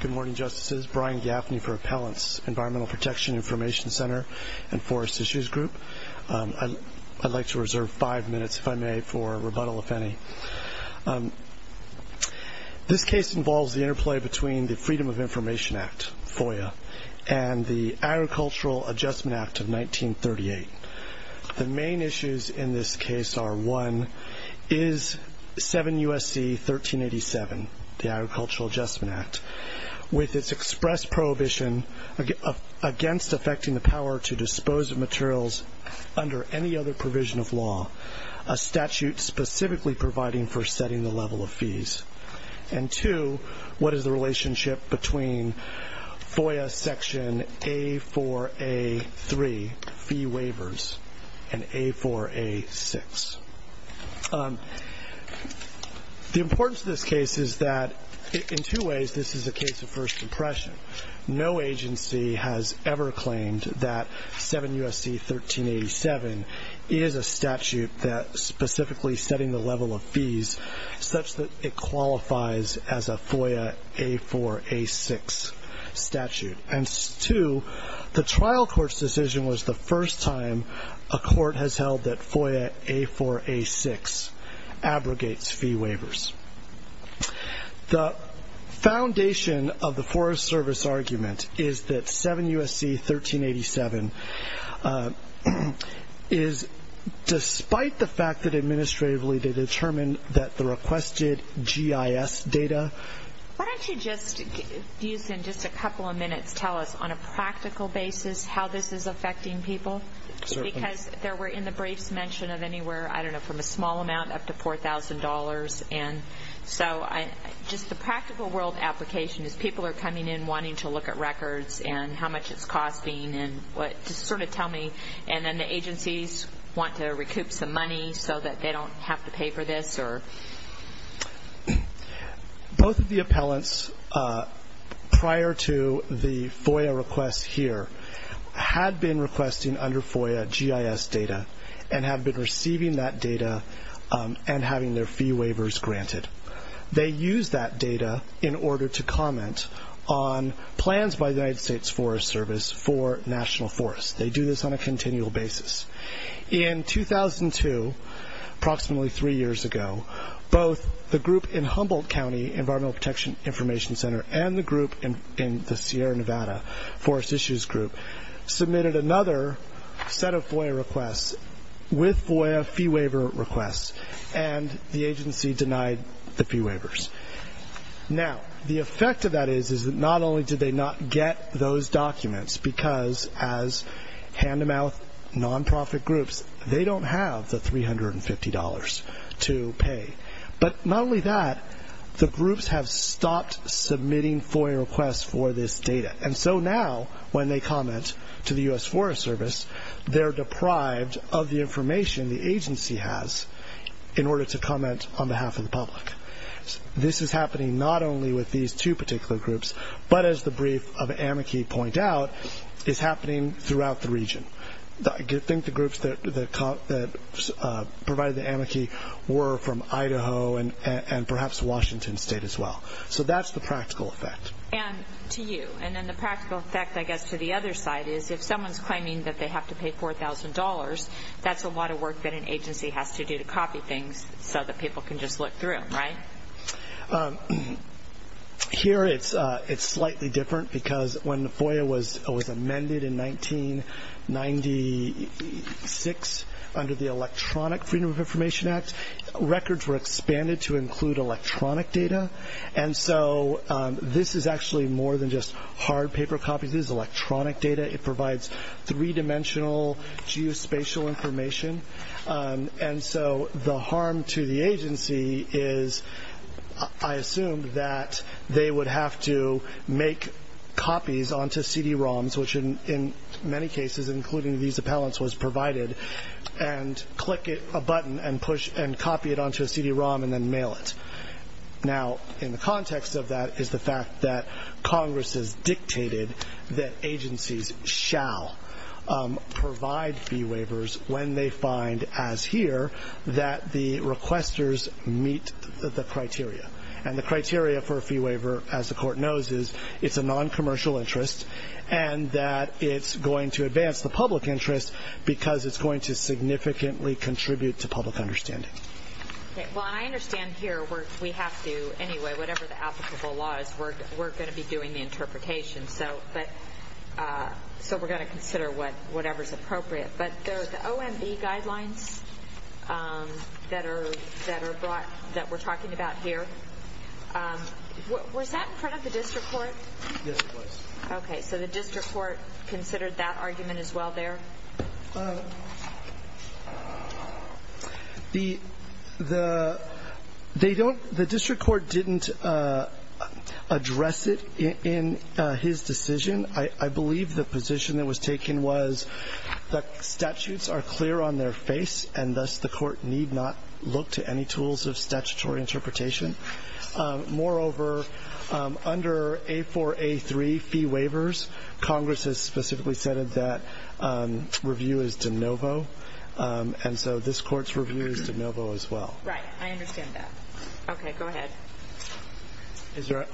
Good morning, Justices. Brian Gaffney for Appellants, Environmental Protection Information Center and Forest Issues Group. I'd like to reserve five minutes, if I may, for rebuttal, if any. This case involves the interplay between the Freedom of Information Act, FOIA, and the Agricultural Adjustment Act of 1938. The main issues in this case are, one, is 7 U.S.C. 1387, the Agricultural Adjustment Act, with its express prohibition against affecting the power to dispose of materials under any other provision of law, a statute specifically providing for setting the level of fees? And two, what is the relationship between FOIA section A4A3, fee waivers, and A4A6? The importance of this case is that, in two ways, this is a case of first impression. No agency has ever claimed that 7 U.S.C. 1387 is a statute specifically setting the level of fees such that it qualifies as a FOIA A4A6 statute. And two, the trial court's decision was the first time a court has held that FOIA A4A6 abrogates fee waivers. The foundation of the Forest Service argument is that 7 U.S.C. 1387 is, despite the fact that administratively they determined that the requested GIS data. Why don't you just use, in just a couple of minutes, tell us on a practical basis how this is affecting people? Because there were in the briefs mention of anywhere, I don't know, from a small amount up to $4,000. And so just the practical world application is people are coming in wanting to look at records and how much it's costing and just sort of tell me. And then the agencies want to recoup some money so that they don't have to pay for this? Both of the appellants prior to the FOIA request here had been requesting under FOIA GIS data and have been receiving that data and having their fee waivers granted. They use that data in order to comment on plans by the United States Forest Service for national forests. They do this on a continual basis. In 2002, approximately three years ago, both the group in Humboldt County Environmental Protection Information Center and the group in the Sierra Nevada Forest Issues Group submitted another set of FOIA requests with FOIA fee waiver requests, and the agency denied the fee waivers. Now, the effect of that is that not only did they not get those documents, because as hand-to-mouth nonprofit groups, they don't have the $350 to pay, but not only that, the groups have stopped submitting FOIA requests for this data. And so now, when they comment to the U.S. Forest Service, they're deprived of the information the agency has in order to comment on behalf of the public. This is happening not only with these two particular groups, but as the brief of amici point out, is happening throughout the region. I think the groups that provided the amici were from Idaho and perhaps Washington State as well. So that's the practical effect. Anne, to you. And then the practical effect, I guess, to the other side is if someone's claiming that they have to pay $4,000, that's a lot of work that an agency has to do to copy things so that people can just look through, right? Here it's slightly different because when the FOIA was amended in 1996 under the Electronic Freedom of Information Act, records were expanded to include electronic data. And so this is actually more than just hard paper copies. This is electronic data. It provides three-dimensional geospatial information. And so the harm to the agency is, I assume, that they would have to make copies onto CD-ROMs, which in many cases, including these appellants, was provided, and click a button and copy it onto a CD-ROM and then mail it. Now, in the context of that is the fact that Congress has dictated that agencies shall provide fee waivers when they find, as here, that the requesters meet the criteria. And the criteria for a fee waiver, as the Court knows, is it's a noncommercial interest and that it's going to advance the public interest because it's going to significantly contribute to public understanding. Okay. Well, I understand here we have to, anyway, whatever the applicable law is, we're going to be doing the interpretation, so we're going to consider whatever's appropriate. But the OMB guidelines that we're talking about here, was that in front of the district court? Yes, it was. Okay. So the district court considered that argument as well there? The district court didn't address it in his decision. I believe the position that was taken was that statutes are clear on their face, and thus the court need not look to any tools of statutory interpretation. Moreover, under A4, A3 fee waivers, Congress has specifically said that review is de novo, and so this Court's review is de novo as well. Right. I understand that. Okay. Go ahead.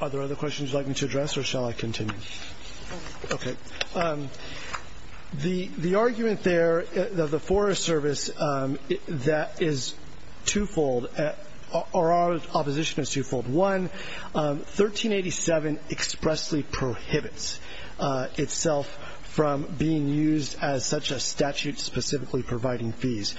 Are there other questions you'd like me to address, or shall I continue? Go ahead. Okay. The argument there of the Forest Service that is twofold, or our opposition is twofold. One, 1387 expressly prohibits itself from being used as such a statute specifically providing fees.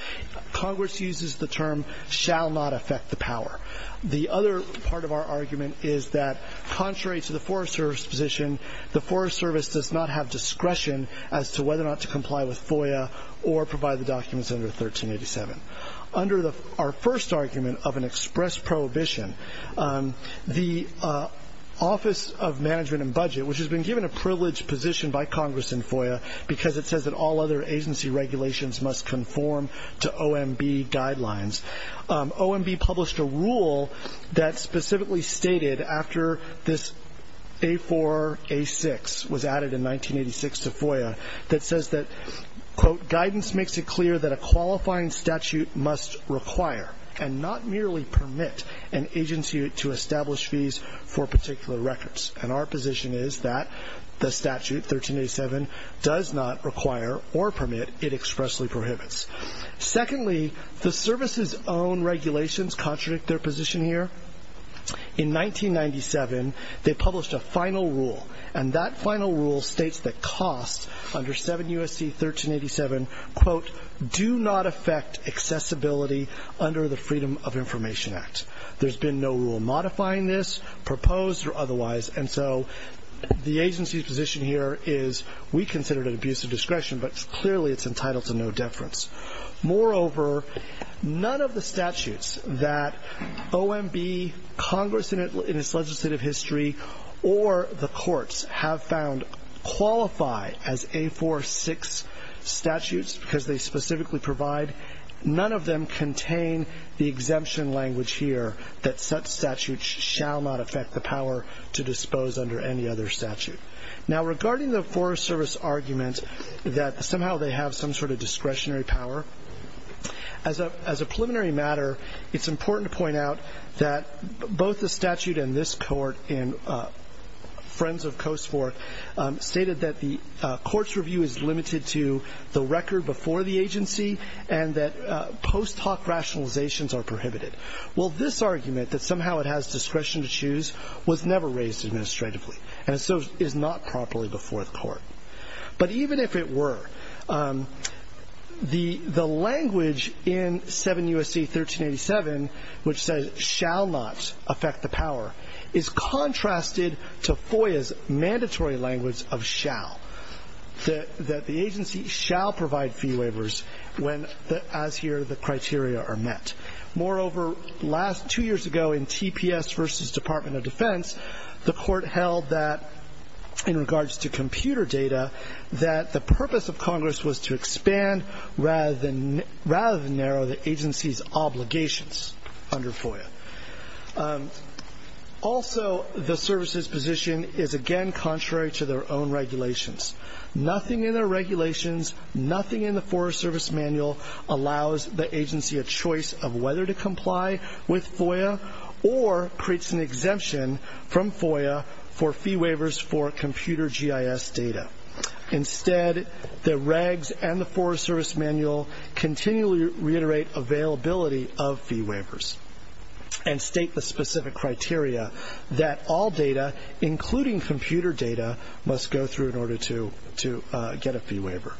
Congress uses the term shall not affect the power. The other part of our argument is that contrary to the Forest Service position, the Forest Service does not have discretion as to whether or not to comply with FOIA or provide the documents under 1387. Under our first argument of an express prohibition, the Office of Management and Budget, which has been given a privileged position by Congress in FOIA because it says that all other agency regulations must conform to OMB guidelines. OMB published a rule that specifically stated, after this A4, A6 was added in 1986 to FOIA, that says that, quote, guidance makes it clear that a qualifying statute must require and not merely permit an agency to establish fees for particular records. And our position is that the statute, 1387, does not require or permit. It expressly prohibits. Secondly, the service's own regulations contradict their position here. In 1997, they published a final rule, and that final rule states that costs under 7 U.S.C. 1387, quote, do not affect accessibility under the Freedom of Information Act. There's been no rule modifying this, proposed or otherwise, and so the agency's position here is we consider it an abuse of discretion, but clearly it's entitled to no deference. Moreover, none of the statutes that OMB, Congress in its legislative history, or the courts have found qualify as A4, 6 statutes because they specifically provide, none of them contain the exemption language here that such statutes shall not affect the power to dispose under any other statute. Now, regarding the Forest Service argument that somehow they have some sort of discretionary power, as a preliminary matter, it's important to point out that both the statute and this court in Friends of Coast Fork stated that the court's review is limited to the record before the agency and that post hoc rationalizations are prohibited. Well, this argument that somehow it has discretion to choose was never raised administratively and so is not properly before the court. But even if it were, the language in 7 U.S.C. 1387, which says shall not affect the power, is contrasted to FOIA's mandatory language of shall, that the agency shall provide fee waivers when, as here, the criteria are met. Moreover, two years ago in TPS versus Department of Defense, the court held that in regards to computer data, that the purpose of Congress was to expand rather than narrow the agency's obligations under FOIA. Also, the services position is, again, contrary to their own regulations. Nothing in their regulations, nothing in the Forest Service manual allows the agency a choice of whether to comply with FOIA or creates an exemption from FOIA for fee waivers for computer GIS data. Instead, the regs and the Forest Service manual continually reiterate availability of fee waivers and state the specific criteria that all data, including computer data, must go through in order to get a fee waiver.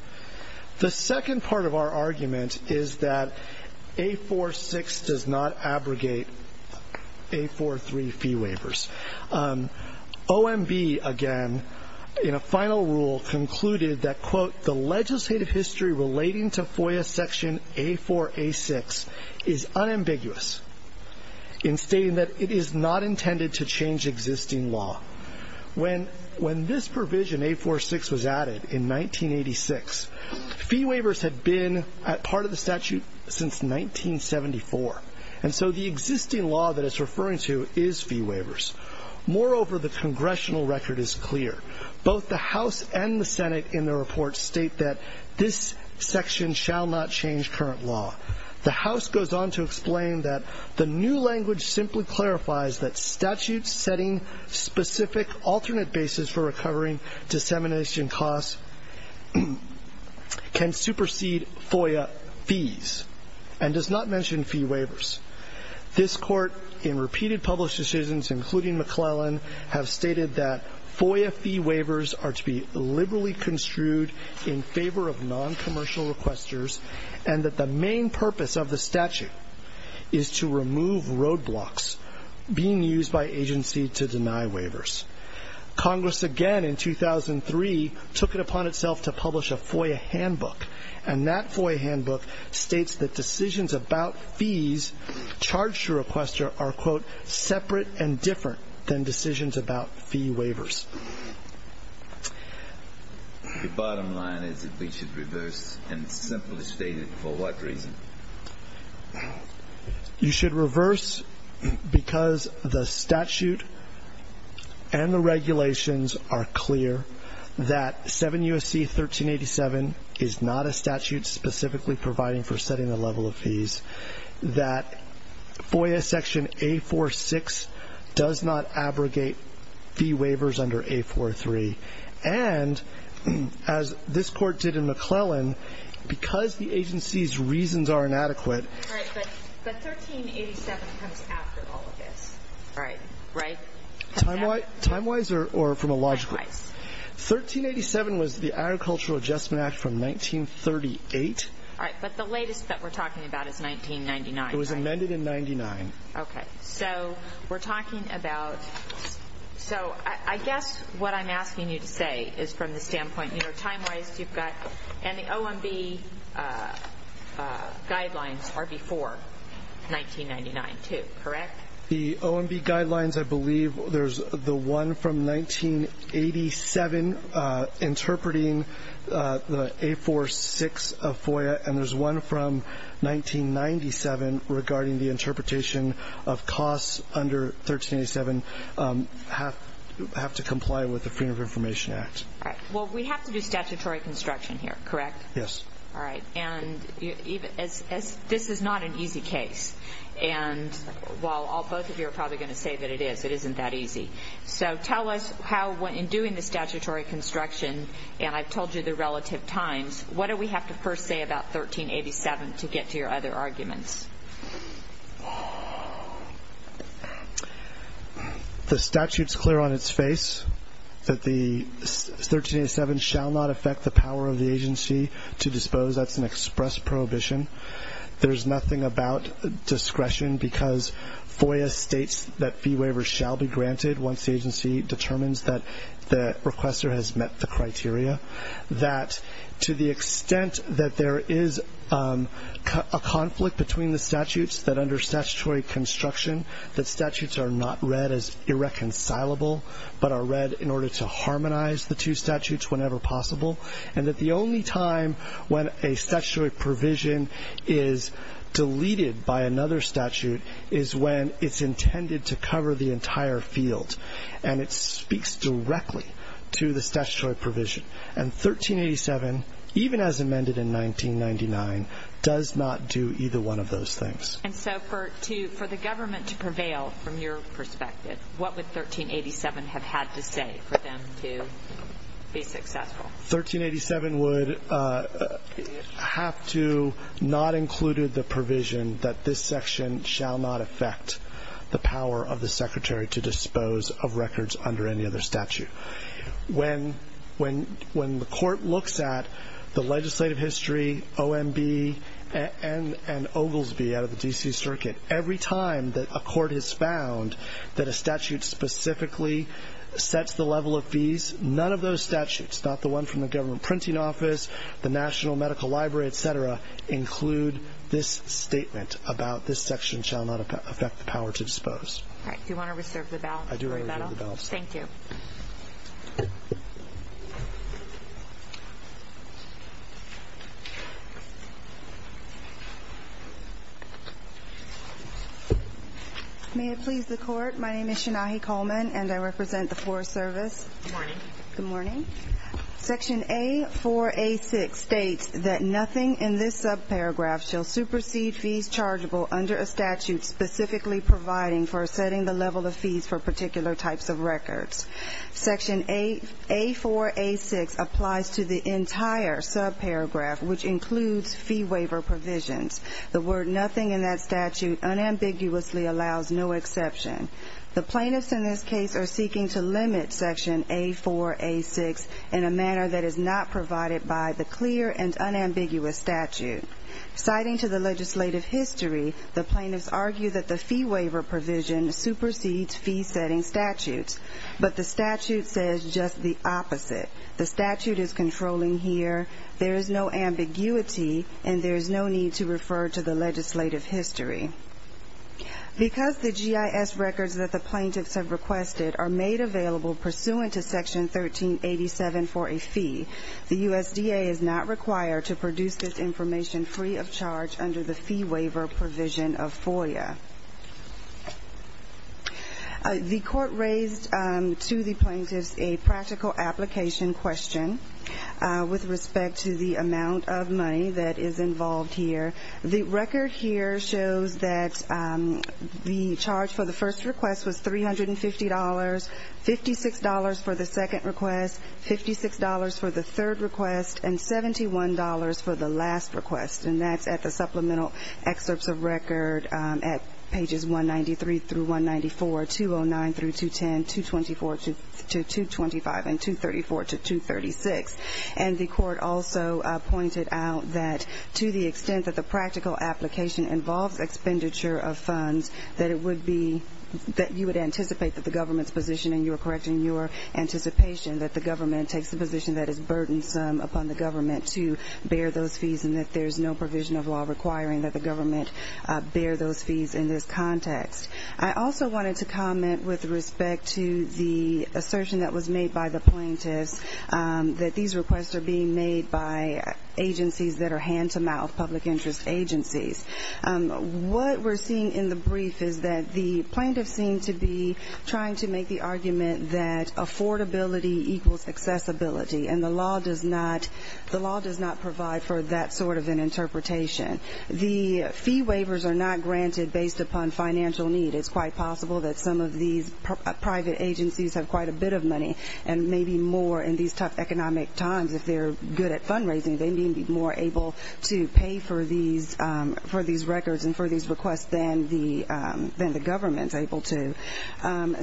The second part of our argument is that A-4-6 does not abrogate A-4-3 fee waivers. OMB, again, in a final rule, concluded that, quote, the legislative history relating to FOIA section A-4-A-6 is unambiguous in stating that it is not intended to change existing law. When this provision, A-4-6, was added in 1986, fee waivers had been part of the statute since 1974, and so the existing law that it's referring to is fee waivers. Moreover, the congressional record is clear. Both the House and the Senate in the report state that this section shall not change current law. The House goes on to explain that the new language simply clarifies that statutes setting specific alternate basis for recovering dissemination costs can supersede FOIA fees and does not mention fee waivers. This Court, in repeated published decisions, including McClellan, have stated that FOIA fee waivers are to be liberally construed in favor of noncommercial requesters and that the main purpose of the statute is to remove roadblocks being used by agency to deny waivers. Congress, again in 2003, took it upon itself to publish a FOIA handbook, and that FOIA handbook states that decisions about fees charged to a requester are, quote, separate and different than decisions about fee waivers. The bottom line is that we should reverse and simply state it. For what reason? You should reverse because the statute and the regulations are clear that 7 U.S.C. 1387 is not a statute specifically providing for setting the level of fees, that FOIA section A-4-6 does not abrogate fee waivers under A-4-3, and as this Court did in McClellan, because the agency's reasons are inadequate. Right, but 1387 comes after all of this, right? Timewise or from a logical? Timewise. 1387 was the Agricultural Adjustment Act from 1938. All right, but the latest that we're talking about is 1999, right? It was amended in 99. Okay. So we're talking about so I guess what I'm asking you to say is from the standpoint, you know, timewise you've got, and the OMB guidelines are before 1999 too, correct? The OMB guidelines, I believe there's the one from 1987 interpreting the A-4-6 FOIA, and there's one from 1997 regarding the interpretation of costs under 1387 have to comply with the Freedom of Information Act. All right, well, we have to do statutory construction here, correct? Yes. All right, and this is not an easy case, and while both of you are probably going to say that it is, it isn't that easy. So tell us how in doing the statutory construction, and I've told you the relative times, what do we have to first say about 1387 to get to your other arguments? The statute's clear on its face that the 1387 shall not affect the power of the agency to dispose. That's an express prohibition. There's nothing about discretion because FOIA states that fee waivers shall be granted once the agency determines that the requester has met the criteria. That to the extent that there is a conflict between the statutes, that under statutory construction the statutes are not read as irreconcilable, but are read in order to harmonize the two statutes whenever possible, and that the only time when a statutory provision is deleted by another statute is when it's intended to cover the entire field, and it speaks directly to the statutory provision. And 1387, even as amended in 1999, does not do either one of those things. And so for the government to prevail from your perspective, what would 1387 have had to say for them to be successful? 1387 would have to not include the provision that this section shall not affect the power of the secretary to dispose of records under any other statute. When the court looks at the legislative history, OMB, and Oglesby out of the D.C. Circuit, every time that a court has found that a statute specifically sets the level of fees, none of those statutes, not the one from the government printing office, the National Medical Library, et cetera, include this statement about this section shall not affect the power to dispose. All right. Do you want to reserve the balance? I do reserve the balance. Thank you. May it please the Court. My name is Shanahi Coleman, and I represent the Forest Service. Good morning. Good morning. Section A4A6 states that nothing in this subparagraph shall supersede fees chargeable under a statute specifically providing for setting the level of fees for particular types of records. Section A4A6 applies to the entire subparagraph, which includes fee waiver provisions. The word nothing in that statute unambiguously allows no exception. The plaintiffs in this case are seeking to limit Section A4A6 in a manner that is not provided by the clear and unambiguous statute. Citing to the legislative history, the plaintiffs argue that the fee waiver provision supersedes fee-setting statutes, but the statute says just the opposite. The statute is controlling here. There is no ambiguity, and there is no need to refer to the legislative history. Because the GIS records that the plaintiffs have requested are made available pursuant to Section 1387 for a fee, the USDA is not required to produce this information free of charge under the fee waiver provision of FOIA. The Court raised to the plaintiffs a practical application question with respect to the amount of money that is involved here. The record here shows that the charge for the first request was $350, $56 for the second request, $56 for the third request, and $71 for the last request. And that's at the supplemental excerpts of record at pages 193-194, 209-210, 224-225, and 234-236. And the Court also pointed out that to the extent that the practical application involves expenditure of funds, that it would be that you would anticipate that the government's position, and you are correct in your anticipation that the government takes the position that is burdensome upon the government to bear those fees, and that there is no provision of law requiring that the government bear those fees in this context. I also wanted to comment with respect to the assertion that was made by the plaintiffs that these requests are being made by agencies that are hand-to-mouth public interest agencies. What we're seeing in the brief is that the plaintiffs seem to be trying to make the argument that affordability equals accessibility, and the law does not provide for that sort of an interpretation. The fee waivers are not granted based upon financial need. It's quite possible that some of these private agencies have quite a bit of money and may be more in these tough economic times, if they're good at fundraising, they may be more able to pay for these records and for these requests than the government's able to.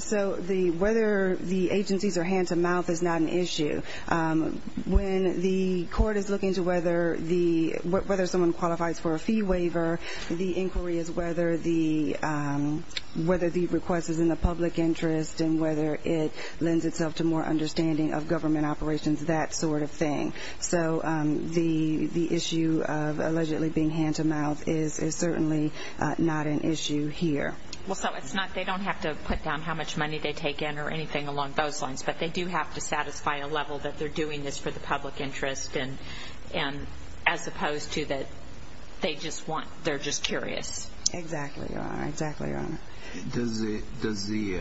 So whether the agencies are hand-to-mouth is not an issue. When the Court is looking to whether someone qualifies for a fee waiver, the inquiry is whether the request is in the public interest and whether it lends itself to more understanding of government operations, that sort of thing. So the issue of allegedly being hand-to-mouth is certainly not an issue here. So they don't have to put down how much money they take in or anything along those lines, but they do have to satisfy a level that they're doing this for the public interest as opposed to that they're just curious. Exactly, Your Honor. Does the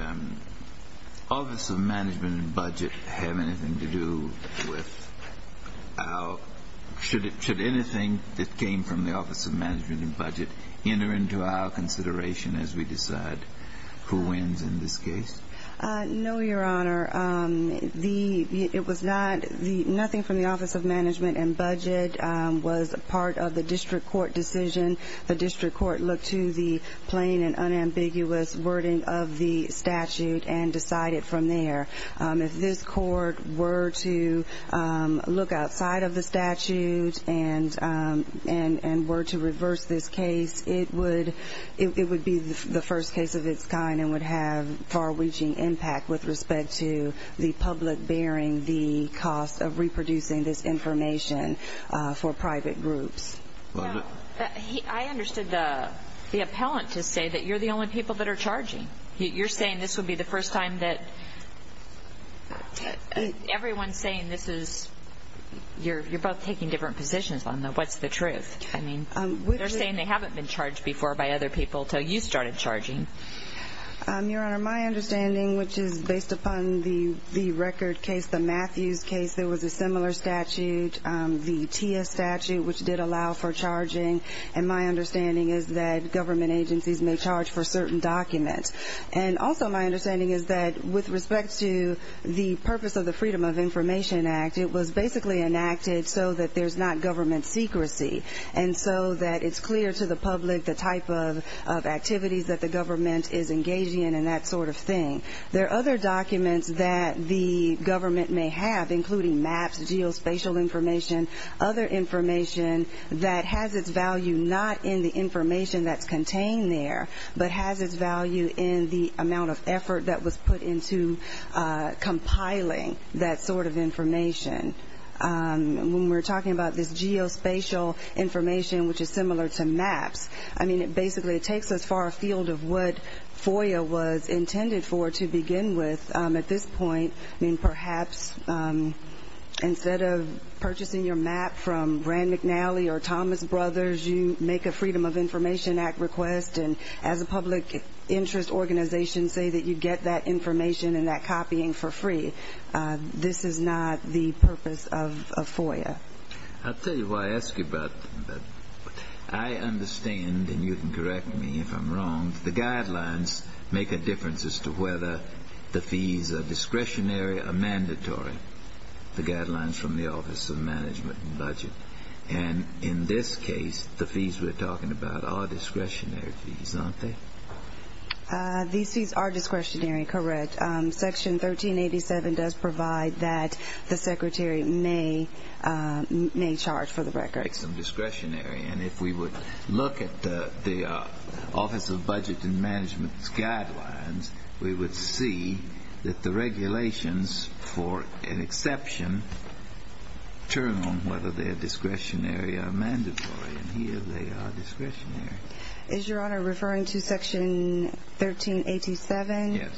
Office of Management and Budget have anything to do with our should anything that came from the Office of Management and Budget enter into our consideration as we decide who wins in this case? No, Your Honor. It was not. Nothing from the Office of Management and Budget was part of the district court decision. The district court looked to the plain and unambiguous wording of the statute and decided from there. If this court were to look outside of the statute and were to reverse this case, it would be the first case of its kind and would have far-reaching impact with respect to the public bearing the cost of reproducing this information for private groups. I understood the appellant to say that you're the only people that are charging. You're saying this would be the first time that everyone's saying this is you're both taking different positions on what's the truth. I mean, they're saying they haven't been charged before by other people until you started charging. Your Honor, my understanding, which is based upon the record case, the Matthews case, there was a similar statute, the TIA statute, which did allow for charging, and my understanding is that government agencies may charge for certain documents. And also my understanding is that with respect to the purpose of the Freedom of Information Act, it was basically enacted so that there's not government secrecy and so that it's clear to the public the type of activities that the government is engaging in and that sort of thing. There are other documents that the government may have, including maps, geospatial information, other information that has its value not in the information that's contained there, but has its value in the amount of effort that was put into compiling that sort of information. When we're talking about this geospatial information, which is similar to maps, I mean, basically it takes us far afield of what FOIA was intended for to begin with at this point. I mean, perhaps instead of purchasing your map from Rand McNally or Thomas Brothers, you make a Freedom of Information Act request, and as a public interest organization, say that you get that information and that copying for free. This is not the purpose of FOIA. I'll tell you why I ask you about that. I understand, and you can correct me if I'm wrong, the guidelines make a difference as to whether the fees are discretionary or mandatory, the guidelines from the Office of Management and Budget. And in this case, the fees we're talking about are discretionary fees, aren't they? These fees are discretionary, correct. Section 1387 does provide that the secretary may charge for the records. Makes them discretionary. And if we would look at the Office of Budget and Management's guidelines, we would see that the regulations, for an exception, turn on whether they're discretionary or mandatory. And here they are discretionary. Is Your Honor referring to Section 1387? Yes.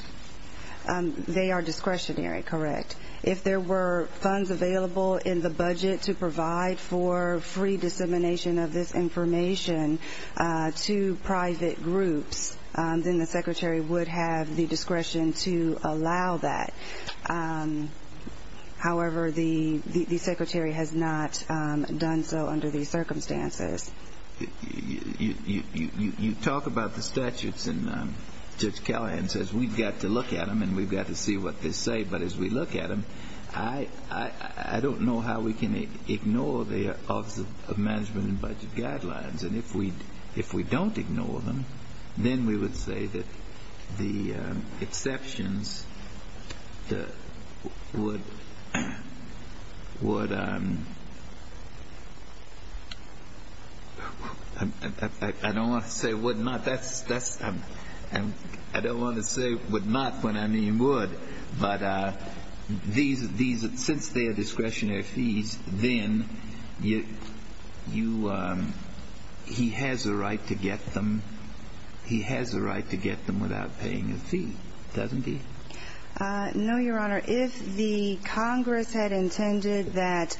They are discretionary, correct. If there were funds available in the budget to provide for free dissemination of this information to private groups, then the secretary would have the discretion to allow that. However, the secretary has not done so under these circumstances. You talk about the statutes, and Judge Callahan says we've got to look at them and we've got to see what they say, but as we look at them, I don't know how we can ignore the Office of Management and Budget guidelines. And if we don't ignore them, then we would say that the exceptions would – I don't want to say would not. I don't want to say would not when I mean would. But since they are discretionary fees, then he has a right to get them without paying a fee, doesn't he? No, Your Honor. If the Congress had intended that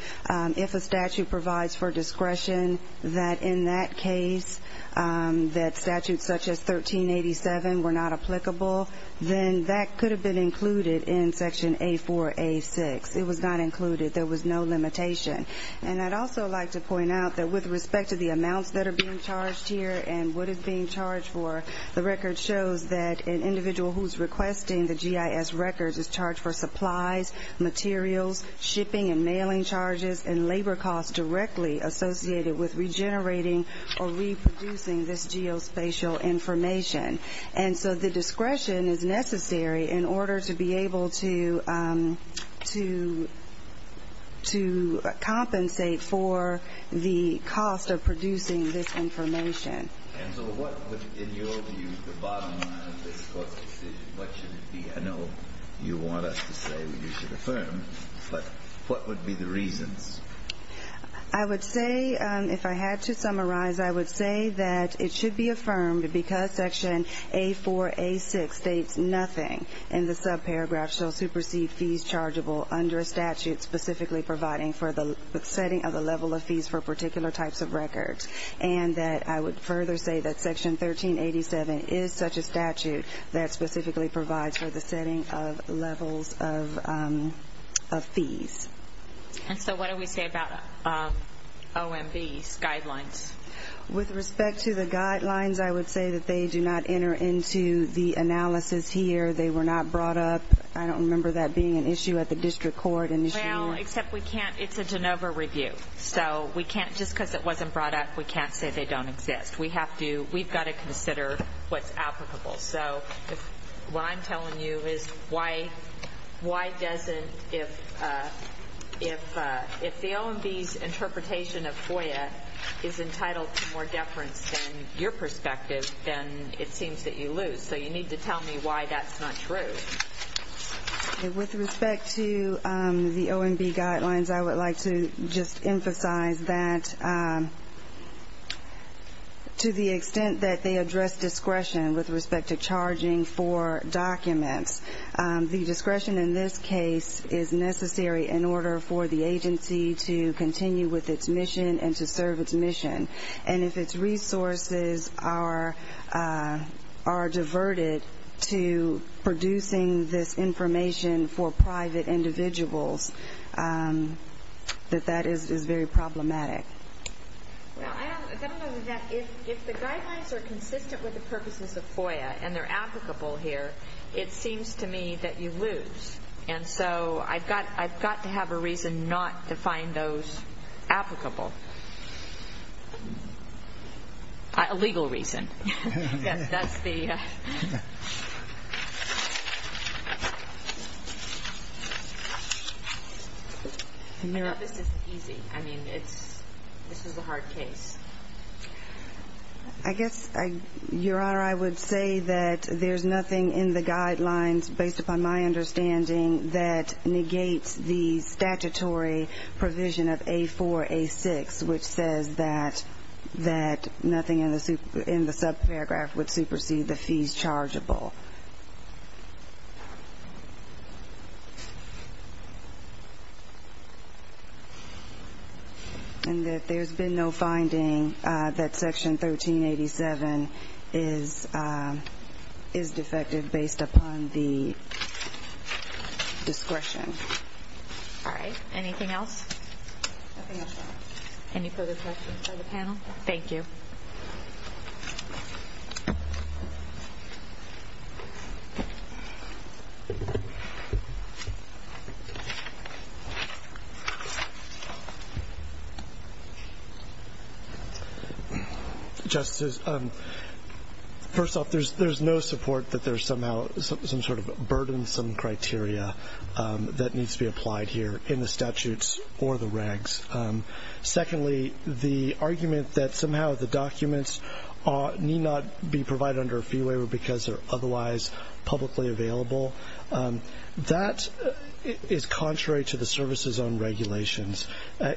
if a statute provides for discretion, that in that case that statutes such as 1387 were not applicable, then that could have been included in Section A4-A6. It was not included. There was no limitation. And I'd also like to point out that with respect to the amounts that are being charged here and what is being charged for, the record shows that an individual who's requesting the GIS records is charged for supplies, materials, shipping and mailing charges, and labor costs directly associated with regenerating or reproducing this geospatial information. And so the discretion is necessary in order to be able to compensate for the cost of producing this information. And so what would, in your view, the bottom line of this Court's decision, what should it be? I know you want us to say we should affirm, but what would be the reasons? I would say, if I had to summarize, I would say that it should be affirmed because Section A4-A6 states nothing in the subparagraph shall supersede fees chargeable under a statute specifically providing for the setting of the level of fees for particular types of records. And that I would further say that Section 1387 is such a statute that specifically provides for the setting of levels of fees. And so what do we say about OMB's guidelines? With respect to the guidelines, I would say that they do not enter into the analysis here. They were not brought up. I don't remember that being an issue at the district court in this year. Well, except we can't, it's a Jenova review. So we can't, just because it wasn't brought up, we can't say they don't exist. We have to, we've got to consider what's applicable. So what I'm telling you is why doesn't, if the OMB's interpretation of FOIA is entitled to more deference than your perspective, then it seems that you lose. So you need to tell me why that's not true. With respect to the OMB guidelines, I would like to just emphasize that to the extent that they address discretion with respect to charging for documents, the discretion in this case is necessary in order for the agency to continue with its mission and to serve its mission. And if its resources are diverted to producing this information for private individuals, that that is very problematic. Well, I don't know that if the guidelines are consistent with the purposes of FOIA and they're applicable here, it seems to me that you lose. And so I've got to have a reason not to find those applicable. A legal reason. That's the... I know this is easy. I mean, this is a hard case. I guess, Your Honor, I would say that there's nothing in the guidelines, based upon my understanding, that negates the statutory provision of A4, A6, which says that nothing in the subparagraph would supersede the fees chargeable. And that there's been no finding that Section 1387 is defective based upon the discretion. All right. Anything else? Nothing else, Your Honor. Any further questions from the panel? Thank you. Justices, first off, there's no support that there's somehow some sort of burdensome criteria that needs to be applied here in the statutes or the regs. Secondly, the argument that somehow the documents need not be provided under a fee waiver because they're otherwise publicly available, that is contrary to the services on regulations.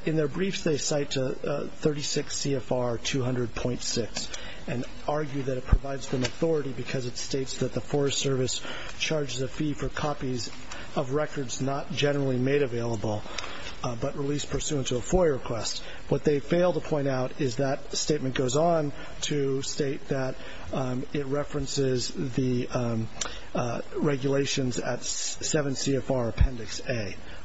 In their briefs, they cite 36 CFR 200.6 and argue that it provides them authority because it states that the Forest Service charges a fee for copies of records not generally made available but released pursuant to a FOIA request. What they fail to point out is that statement goes on to state that it references the regulations at 7 CFR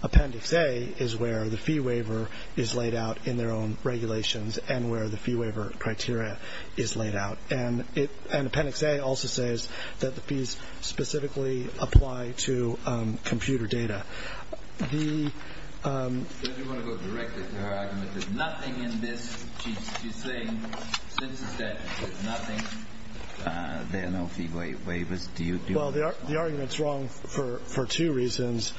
Appendix A. is where the fee waiver is laid out in their own regulations and where the fee waiver criteria is laid out. And Appendix A also says that the fees specifically apply to computer data. Does anyone want to go directly to her argument? There's nothing in this she's saying since the statute. There's nothing. There are no fee waivers. Do you want to respond? Well, the argument's wrong for two reasons.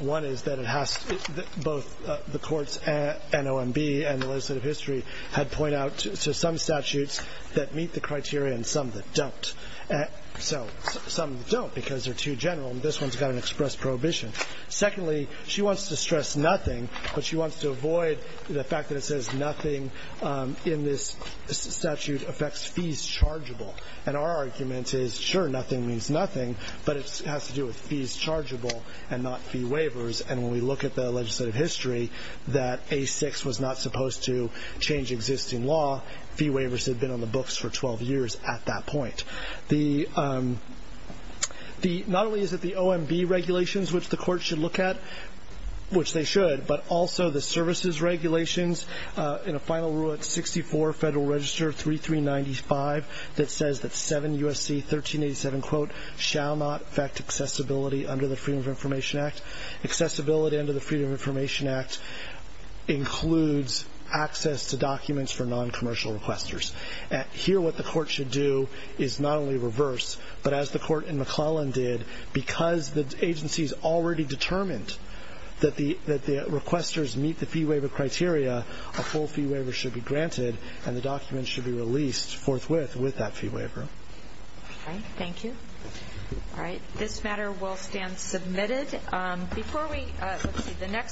One is that it has to be, both the courts and OMB and the legislative history had pointed out to some statutes that meet the criteria and some that don't. So some don't because they're too general. This one's got an express prohibition. Secondly, she wants to stress nothing, but she wants to avoid the fact that it says nothing in this statute affects fees chargeable. And our argument is, sure, nothing means nothing, but it has to do with fees chargeable and not fee waivers. And when we look at the legislative history, that A6 was not supposed to change existing law. Fee waivers had been on the books for 12 years at that point. Not only is it the OMB regulations, which the courts should look at, which they should, but also the services regulations in a final rule at 64 Federal Register 3395 that says that 7 U.S.C. 1387 quote shall not affect accessibility under the Freedom of Information Act. Accessibility under the Freedom of Information Act includes access to documents for noncommercial requesters. Here what the court should do is not only reverse, but as the court in McClellan did, because the agency's already determined that the requesters meet the fee waiver criteria, a full fee waiver should be granted and the document should be released forthwith with that fee waiver. Okay, thank you. All right, this matter will stand submitted. Before we, let's see.